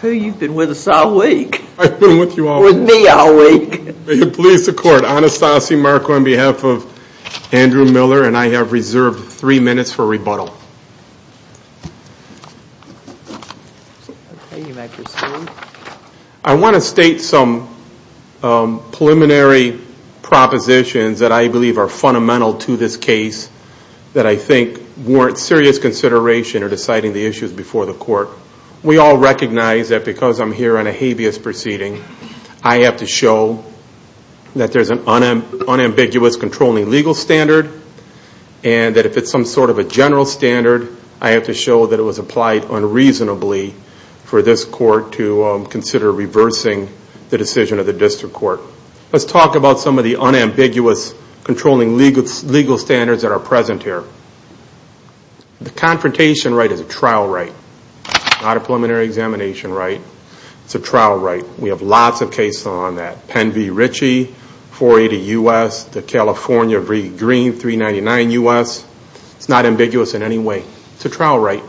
Who you've been with us all week. I've been with you all week. With me all week. May it please the court, Anastasi Marko on behalf of Andrew Miller and I have reserved three minutes for rebuttal. I want to state some preliminary propositions that I believe are fundamental to this case that I think warrant serious consideration or deciding the issues before the court. We all recognize that because I'm here on a habeas proceeding, I have to show that there's an unambiguous controlling legal standard and that if it's some sort of a general standard, I have to show that it was applied unreasonably for this court to consider reversing the decision of the district court. Let's talk about some of the unambiguous controlling legal standards that are present here. First, the confrontation right is a trial right. Not a preliminary examination right. It's a trial right. We have lots of cases on that. Penn v. Ritchie, 480 U.S., the California v. Green, 399 U.S. It's not ambiguous in any way. It's a trial right.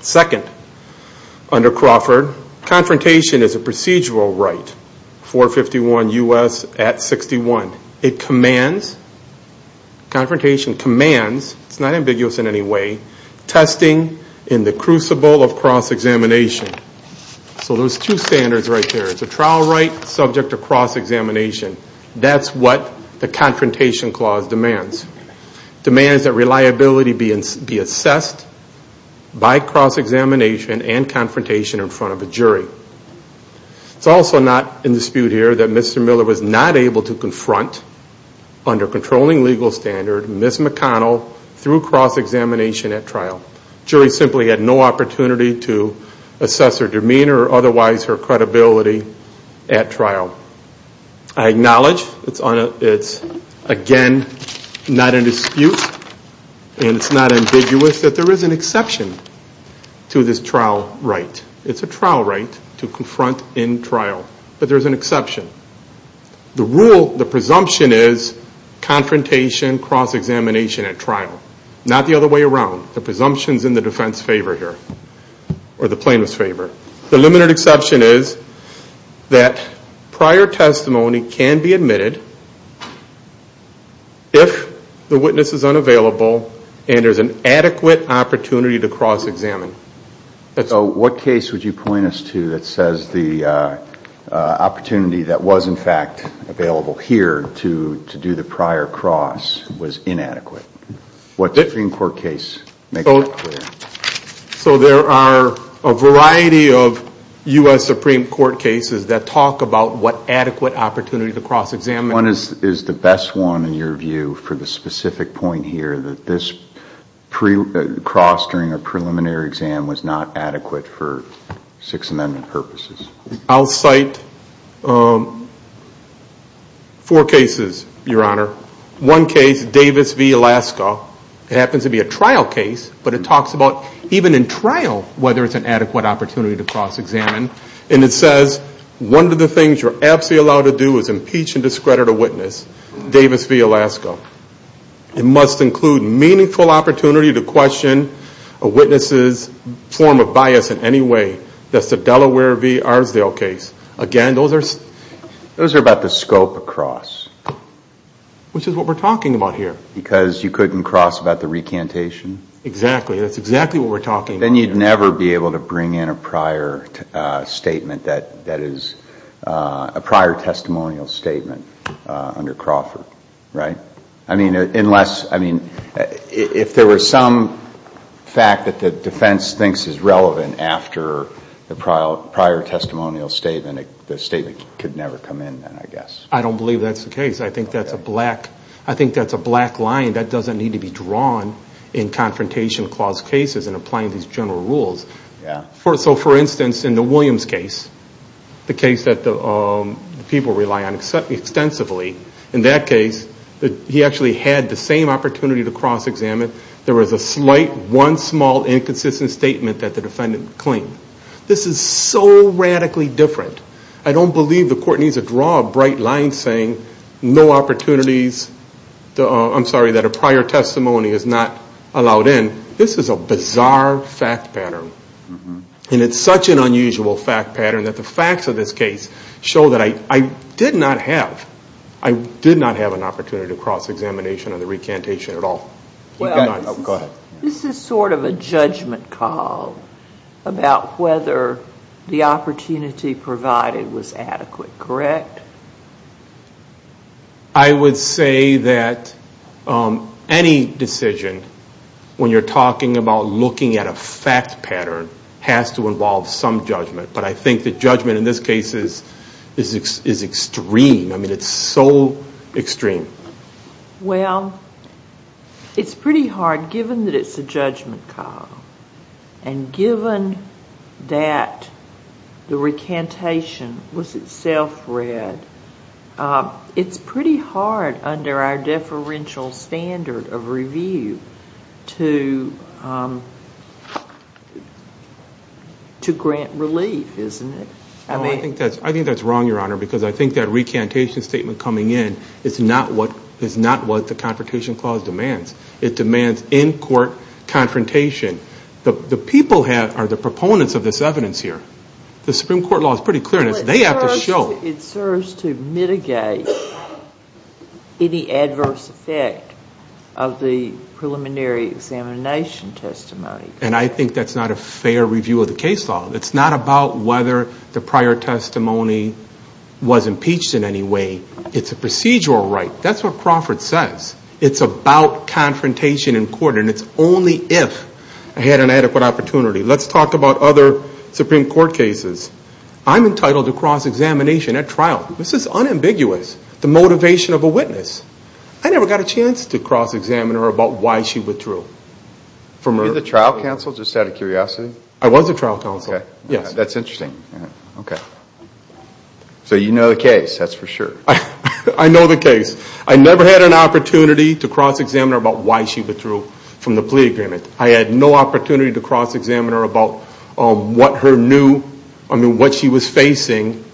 Second, under Crawford, confrontation is a procedural right. 451 U.S. at 61. It commands, confrontation commands, it's not ambiguous in any way, testing in the crucible of cross-examination. So those two standards right there. It's a trial right subject to cross-examination. That's what the confrontation clause demands. Demands that reliability be assessed by cross-examination and confrontation in front of a jury. It's also not in dispute here that Mr. Miller was not able to confront under controlling legal standard, Ms. McConnell, through cross-examination at trial. Jury simply had no opportunity to assess her demeanor or otherwise her credibility at trial. I acknowledge it's again not in dispute and it's not ambiguous that there is an exception to this trial right. It's a trial right to confront in trial. But there's an exception. The rule, the presumption is confrontation, cross-examination at trial. Not the other way around. The presumption's in the defense's favor here or the plaintiff's favor. The limited exception is that prior testimony can be admitted if the witness is unavailable and there's an adequate opportunity to cross-examine. So what case would you point us to that says the opportunity that was in fact available here to do the prior cross was inadequate? What Supreme Court case? So there are a variety of U.S. Supreme Court cases that talk about what adequate opportunity to cross-examine. What is the best one in your view for the specific point here that this cross during a preliminary exam was not adequate for Sixth Amendment purposes? I'll cite four cases, Your Honor. One case, Davis v. Alaska, happens to be a trial case but it talks about even in trial whether it's an adequate opportunity to cross-examine. And it says one of the things you're absolutely allowed to do is impeach and discredit a witness, Davis v. Alaska. It must include meaningful opportunity to question a witness's form of bias in any way. That's the Delaware v. Arsdale case. Again, those are... Those are about the scope of cross. Which is what we're talking about here. Because you couldn't cross about the recantation? Exactly. That's exactly what we're talking about. Then you'd never be able to bring in a prior statement that is a prior testimonial statement under Crawford, right? I mean, unless... I mean, if there were some fact that the defense thinks is relevant after the prior testimonial statement, the statement could never come in then, I guess. I don't believe that's the case. I think that's a black... I think that's a black line that doesn't need to be drawn in confrontation clause cases and applying these general rules. So, for instance, in the Williams case, the case that the people rely on extensively, in that case, he actually had the same opportunity to cross-examine. There was a slight, one small inconsistent statement that the defendant claimed. This is so radically different. I don't believe the court needs to draw a bright line saying no opportunities... I'm sorry, that a prior testimony is not allowed in. This is a bizarre fact pattern. And it's such an unusual fact pattern that the facts of this case show that I did not have... I did not have an opportunity to cross-examination on the recantation at all. You did not. Oh, go ahead. This is sort of a judgment call about whether the opportunity provided was adequate, correct? I would say that any decision, when you're talking about looking at a fact pattern, has to involve some judgment. But I think the judgment in this case is extreme. I mean, it's so extreme. Well, it's pretty hard, given that it's a judgment call. And given that the recantation was itself read, it's pretty hard under our deferential standard of review to grant relief. Well, I think that's wrong, Your Honor, because I think that recantation statement coming in is not what the Confrontation Clause demands. It demands in-court confrontation. The people are the proponents of this evidence here. The Supreme Court law is pretty clear on this. They have to show... It serves to mitigate any adverse effect of the preliminary examination testimony. And I think that's not a fair review of the case law. It's not about whether the prior testimony was impeached in any way. It's a procedural right. That's what Crawford says. It's about confrontation in court. And it's only if I had an adequate opportunity. Let's talk about other Supreme Court cases. I'm entitled to cross-examination at trial. This is unambiguous. The motivation of a witness. I never got a chance to cross-examine her about why she withdrew. Were you the trial counsel, just out of curiosity? I was a trial counsel. That's interesting. So you know the case, that's for sure. I know the case. I never had an opportunity to cross-examine her about why she withdrew from the plea agreement. I had no opportunity to cross-examine her about what she was facing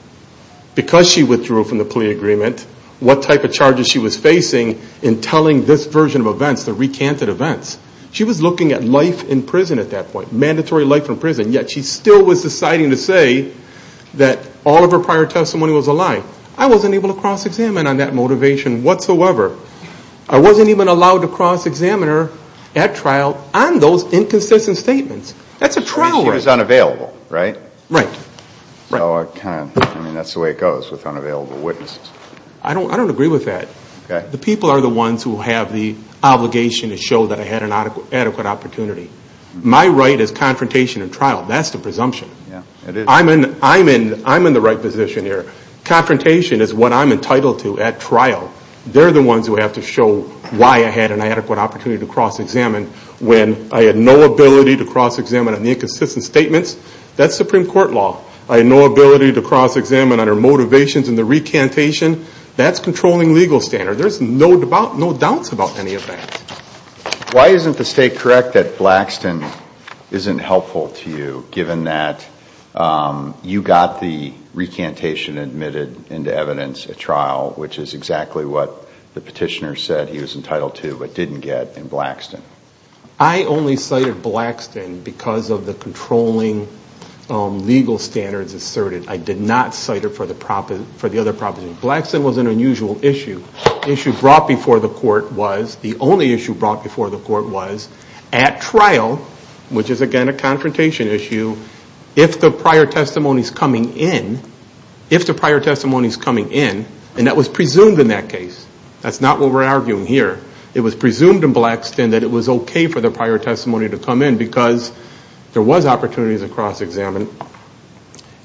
because she withdrew from the plea agreement. What type of charges she was facing in telling this version of events, the recanted events. She was looking at life in prison at that point. Mandatory life in prison. Yet she still was deciding to say that all of her prior testimony was a lie. I wasn't able to cross-examine on that motivation whatsoever. I wasn't even allowed to cross-examine her at trial on those inconsistent statements. That's a trial right. She was unavailable, right? Right. So that's the way it goes with unavailable witnesses. I don't agree with that. The people are the ones who have the obligation to show that I had an adequate opportunity. My right is confrontation at trial. That's the presumption. I'm in the right position here. Confrontation is what I'm entitled to at trial. They're the ones who have to show why I had an adequate opportunity to cross-examine when I had no ability to cross-examine on the inconsistent statements. That's Supreme Court law. I had no ability to cross-examine on her motivations and the recantation. That's controlling legal standard. There's no doubt about any of that. Why isn't the state correct that Blackston isn't helpful to you, given that you got the recantation admitted into evidence at trial, which is exactly what the petitioner said he was entitled to but didn't get in Blackston? I only cited Blackston because of the controlling legal standards asserted. I did not cite her for the other proposition. Blackston was an unusual issue. The issue brought before the court was, the only issue brought before the court was, at trial, which is again a confrontation issue, if the prior testimony is coming in, and that was presumed in that case. That's not what we're arguing here. It was presumed in Blackston that it was okay for the prior testimony to come in because there was opportunities to cross-examine.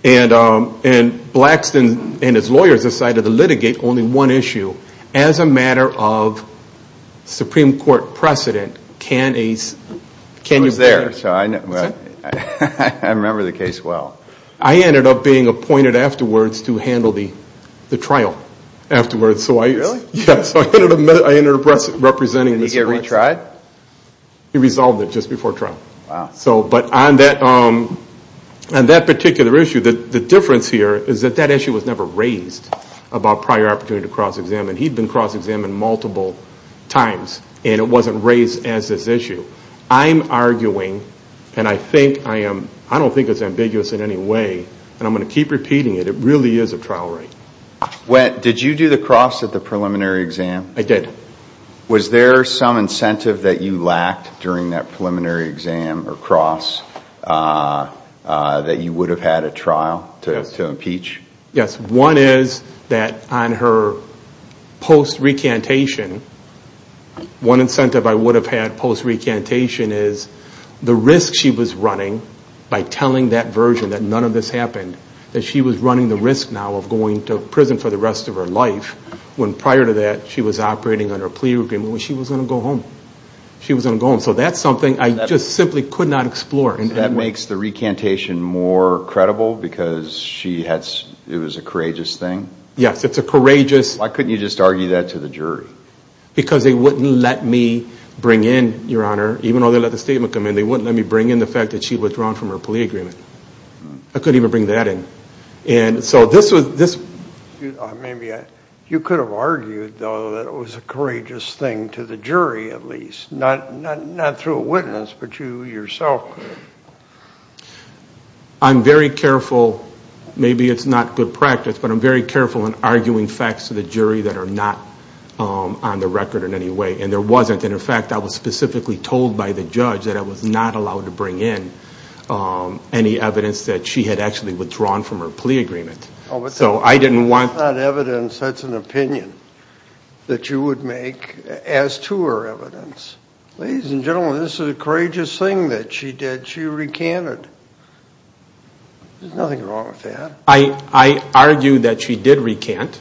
Blackston and his lawyers decided to litigate only one issue. As a matter of Supreme Court precedent, can you- It was there, so I remember the case well. I ended up being appointed afterwards to handle the trial afterwards. Really? Yes, I ended up representing the Supreme Court. Did he get retried? He resolved it just before trial. Wow. But on that particular issue, the difference here is that issue was never raised about prior opportunity to cross-examine. He'd been cross-examined multiple times, and it wasn't raised as this issue. I'm arguing, and I don't think it's ambiguous in any way, and I'm going to keep repeating it, it really is a trial right. Did you do the cross at the preliminary exam? I did. Was there some incentive that you lacked during that preliminary exam or cross that you would have had a trial to impeach? Yes, one is that on her post-recantation, one incentive I would have had post-recantation is the risk she was running by telling that version that none of this happened, that she was running the risk now of going to prison for the rest of her life when prior to that she was operating under a plea agreement when she was going to go home. She was going to go home, so that's something I just simply could not explore. That makes the recantation more credible because it was a courageous thing? Yes, it's a courageous... Why couldn't you just argue that to the jury? Because they wouldn't let me bring in, Your Honor, even though they let the statement come in, they wouldn't let me bring in the fact that she'd withdrawn from her plea agreement. I couldn't even bring that in. You could have argued, though, that it was a courageous thing to the jury at least, not through a witness, but you yourself. I'm very careful, maybe it's not good practice, but I'm very careful in arguing facts to the jury that are not on the record in any way, and there wasn't. In fact, I was specifically told by the judge that I was not allowed to bring in any evidence that she had actually withdrawn from her plea agreement. Oh, but that's not evidence, that's an opinion that you would make as to her evidence. Ladies and gentlemen, this is a courageous thing that she did. She recanted. There's nothing wrong with that. I argue that she did recant.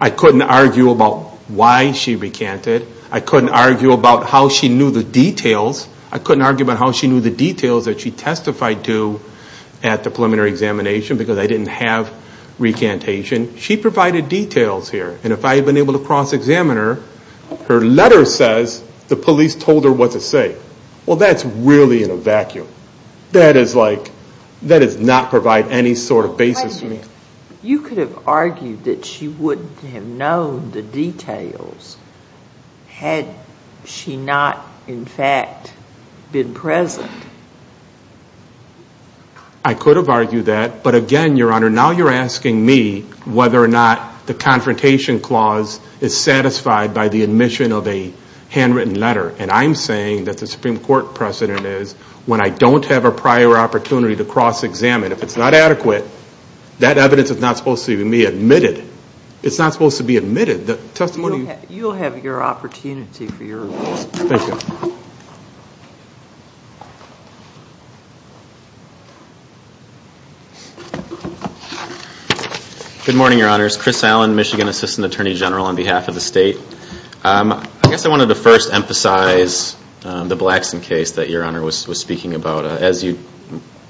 I couldn't argue about why she recanted. I couldn't argue about how she knew the details. I couldn't argue about how she knew the details that she testified to at the preliminary examination because I didn't have recantation. She provided details here, and if I had been able to cross-examine her, her letter says the police told her what to say. Well, that's really in a vacuum. That does not provide any sort of basis for me. You could have argued that she wouldn't have known the details had she not, in fact, been present. I could have argued that, but again, Your Honor, now you're asking me whether or not the confrontation clause is satisfied by the admission of a handwritten letter, and I'm saying that the Supreme Court precedent is when I don't have a prior opportunity to cross-examine. If it's not adequate, that evidence is not supposed to be admitted. It's not supposed to be admitted. The testimony... You'll have your opportunity for your... Thank you. Good morning, Your Honors. Chris Allen, Michigan Assistant Attorney General on behalf of the state. I guess I wanted to first emphasize the Blackson case that Your Honor was speaking about. As you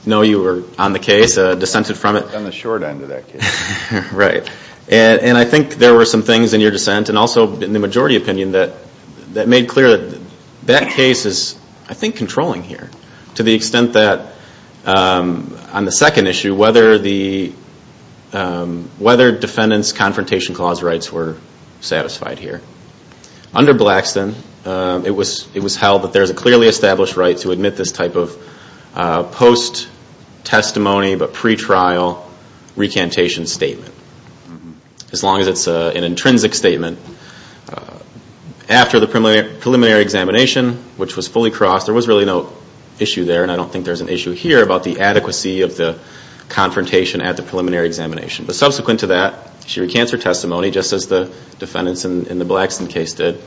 know, you were on the case, dissented from it. On the short end of that case. Right. And I think there were some things in your dissent, and also in the majority opinion, And I think that's what we're trying to do here. That case is, I think, controlling here. To the extent that on the second issue, whether defendants' confrontation clause rights were satisfied here. Under Blackson, it was held that there's a clearly established right to admit this type of post-testimony, but pre-trial recantation statement. As long as it's an intrinsic statement. And after the preliminary examination, which was fully crossed, there was really no issue there. And I don't think there's an issue here about the adequacy of the confrontation at the preliminary examination. But subsequent to that, she recants her testimony, just as the defendants in the Blackson case did.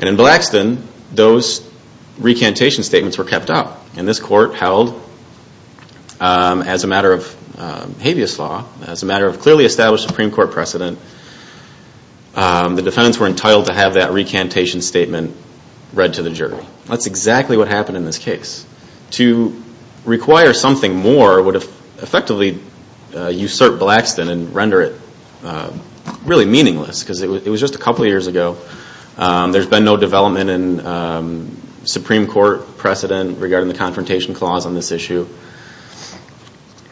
And in Blackson, those recantation statements were kept up. And this court held, as a matter of habeas law, as a matter of clearly established Supreme Court precedent, the defendants were entitled to have that recantation statement read to the jury. That's exactly what happened in this case. To require something more would effectively usurp Blackson and render it really meaningless. Because it was just a couple of years ago. There's been no development in Supreme Court precedent regarding the confrontation clause on this issue.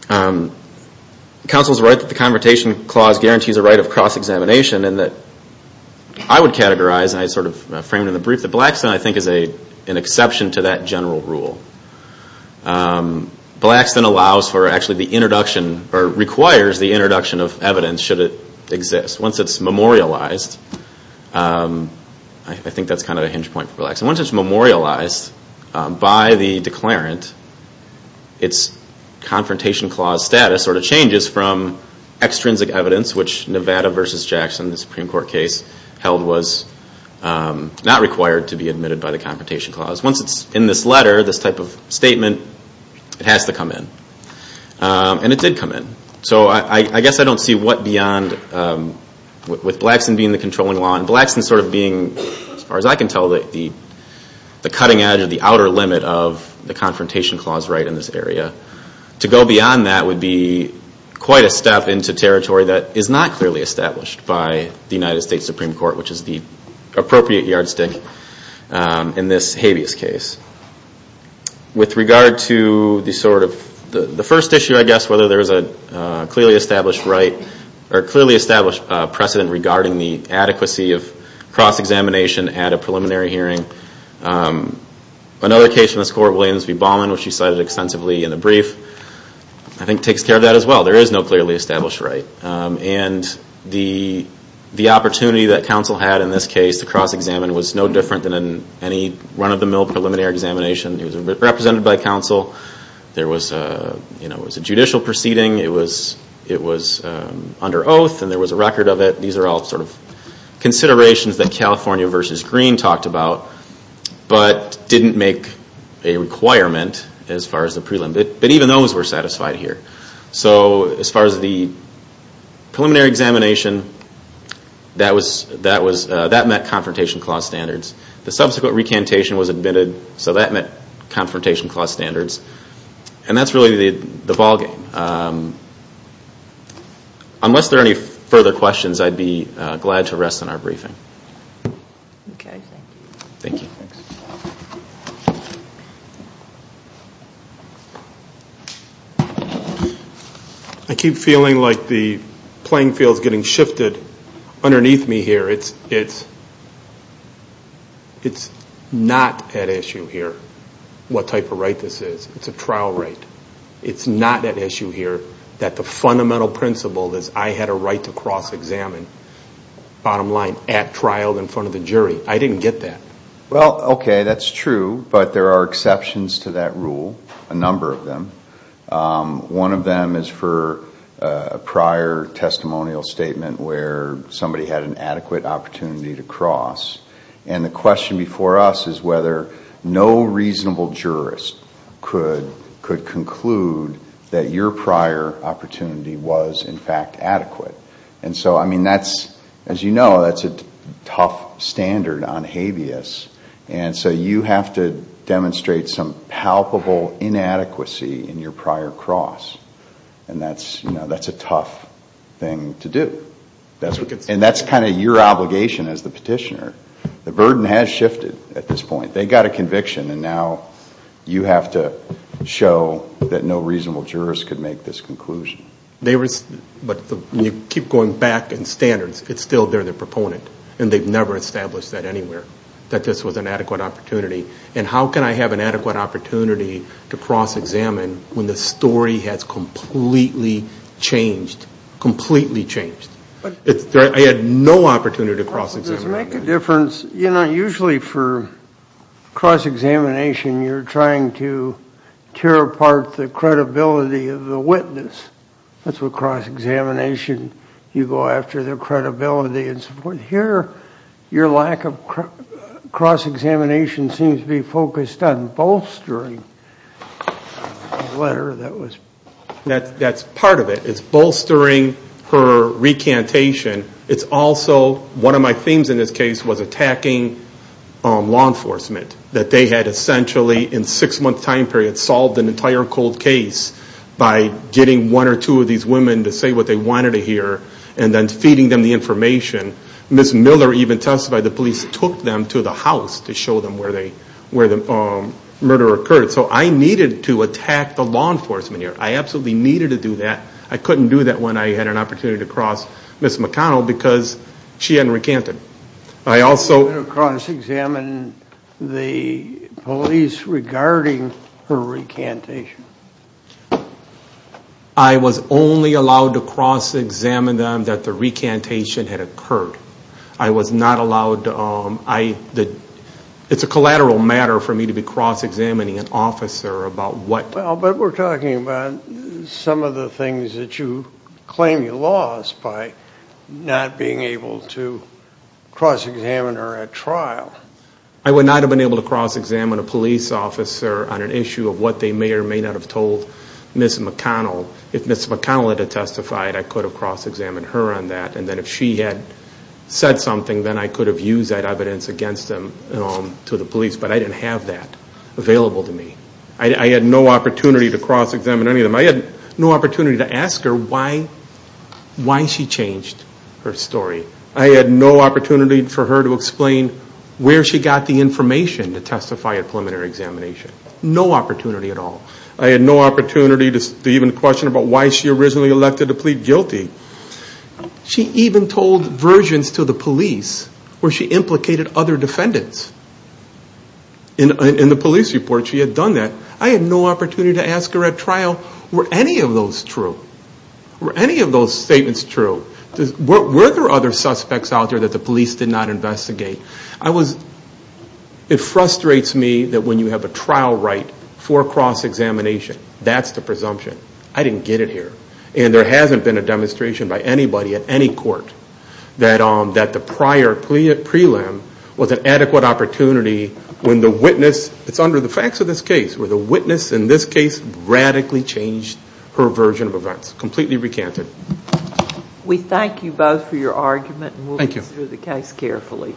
Counsel's right to the confrontation clause guarantees a right of cross-examination. And I would categorize, and I sort of frame it in the brief, that Blackson, I think, is an exception to that general rule. Blackson allows for actually the introduction, or requires the introduction of evidence should it exist. Once it's memorialized, I think that's kind of a hinge point for Blackson. Once it's memorialized by the declarant, its confrontation clause status sort of changes from extrinsic evidence, which Nevada v. Jackson, the Supreme Court case, held was not required to be admitted by the confrontation clause. Once it's in this letter, this type of statement, it has to come in. And it did come in. So I guess I don't see what beyond, with Blackson being the controlling law, and Blackson sort of being, as far as I can tell, the cutting edge or the outer limit of the confrontation clause right in this area. To go beyond that would be quite a step into territory that is not clearly established by the United States Supreme Court, which is the appropriate yardstick in this habeas case. With regard to the sort of, the first issue, I guess, whether there's a clearly established precedent regarding the adequacy of cross-examination at a preliminary hearing. Another case from this court, Williams v. Ballman, which you cited extensively in the brief, I think takes care of that as well. There is no clearly established right. And the opportunity that counsel had in this case to cross-examine was no different than in any run-of-the-mill preliminary examination. It was represented by counsel. There was, you know, it was a judicial proceeding. It was under oath and there was a record of it. These are all sort of considerations that California v. Green talked about, but didn't make a requirement as far as the prelim. But even those were satisfied here. So as far as the preliminary examination, that met confrontation clause standards. The subsequent recantation was admitted, so that met confrontation clause standards. And that's really the ballgame. Unless there are any further questions, I'd be glad to rest on our briefing. Okay, thank you. Thank you. I keep feeling like the playing field is getting shifted underneath me here. It's not at issue here what type of right this is. It's a trial right. It's not at issue here that the fundamental principle is I had a right to cross-examine, bottom line, at trial in front of the jury. I didn't get that. Well, okay, that's true. But there are exceptions to that rule, a number of them. One of them is for a prior testimonial statement where somebody had an adequate opportunity to cross. And the question before us is whether no reasonable jurist could conclude that your prior opportunity was, in fact, adequate. And so, I mean, as you know, that's a tough standard on habeas. And so you have to demonstrate some palpable inadequacy in your prior cross. And that's a tough thing to do. And that's kind of your obligation as the petitioner. The burden has shifted at this point. They got a conviction. And now you have to show that no reasonable jurist could make this conclusion. They were, but you keep going back in standards. It's still, they're the proponent. And they've never established that anywhere, that this was an adequate opportunity. And how can I have an adequate opportunity to cross-examine when the story has completely changed, completely changed? I had no opportunity to cross-examine. Does it make a difference, you know, usually for cross-examination, you're trying to tear apart the credibility of the witness. That's what cross-examination, you go after their credibility and support. Here, your lack of cross-examination seems to be focused on bolstering the letter that was. That's part of it. It's bolstering her recantation. It's also, one of my themes in this case was attacking law enforcement. That they had essentially, in six-month time period, solved an entire cold case by getting one or two of these women to say what they wanted to hear. And then feeding them the information. Ms. Miller even testified the police took them to the house to show them where the murder occurred. So I needed to attack the law enforcement here. I absolutely needed to do that. I couldn't do that when I had an opportunity to cross Ms. McConnell because she hadn't recanted. I also... You didn't cross-examine the police regarding her recantation. I was only allowed to cross-examine them that the recantation had occurred. I was not allowed... It's a collateral matter for me to be cross-examining an officer about what... Well, but we're talking about some of the things that you claim you lost by not being able to cross-examine her at trial. I would not have been able to cross-examine a police officer on an issue of what they may or may not have told Ms. McConnell. If Ms. McConnell had testified, I could have cross-examined her on that. And then if she had said something, then I could have used that evidence against them to the police. But I didn't have that available to me. I had no opportunity to cross-examine any of them. I had no opportunity to ask her why she changed her story. I had no opportunity for her to explain where she got the information to testify at preliminary examination. No opportunity at all. I had no opportunity to even question about why she originally elected to plead guilty. She even told versions to the police where she implicated other defendants. In the police report, she had done that. I had no opportunity to ask her at trial, were any of those true? Were any of those statements true? Were there other suspects out there that the police did not investigate? It frustrates me that when you have a trial right for cross-examination, that's the presumption. I didn't get it here. And there hasn't been a demonstration by anybody at any court that the prior prelim was an adequate opportunity when the witness, it's under the facts of this case, in this case, radically changed her version of events. Completely recanted. We thank you both for your argument and we'll read through the case carefully.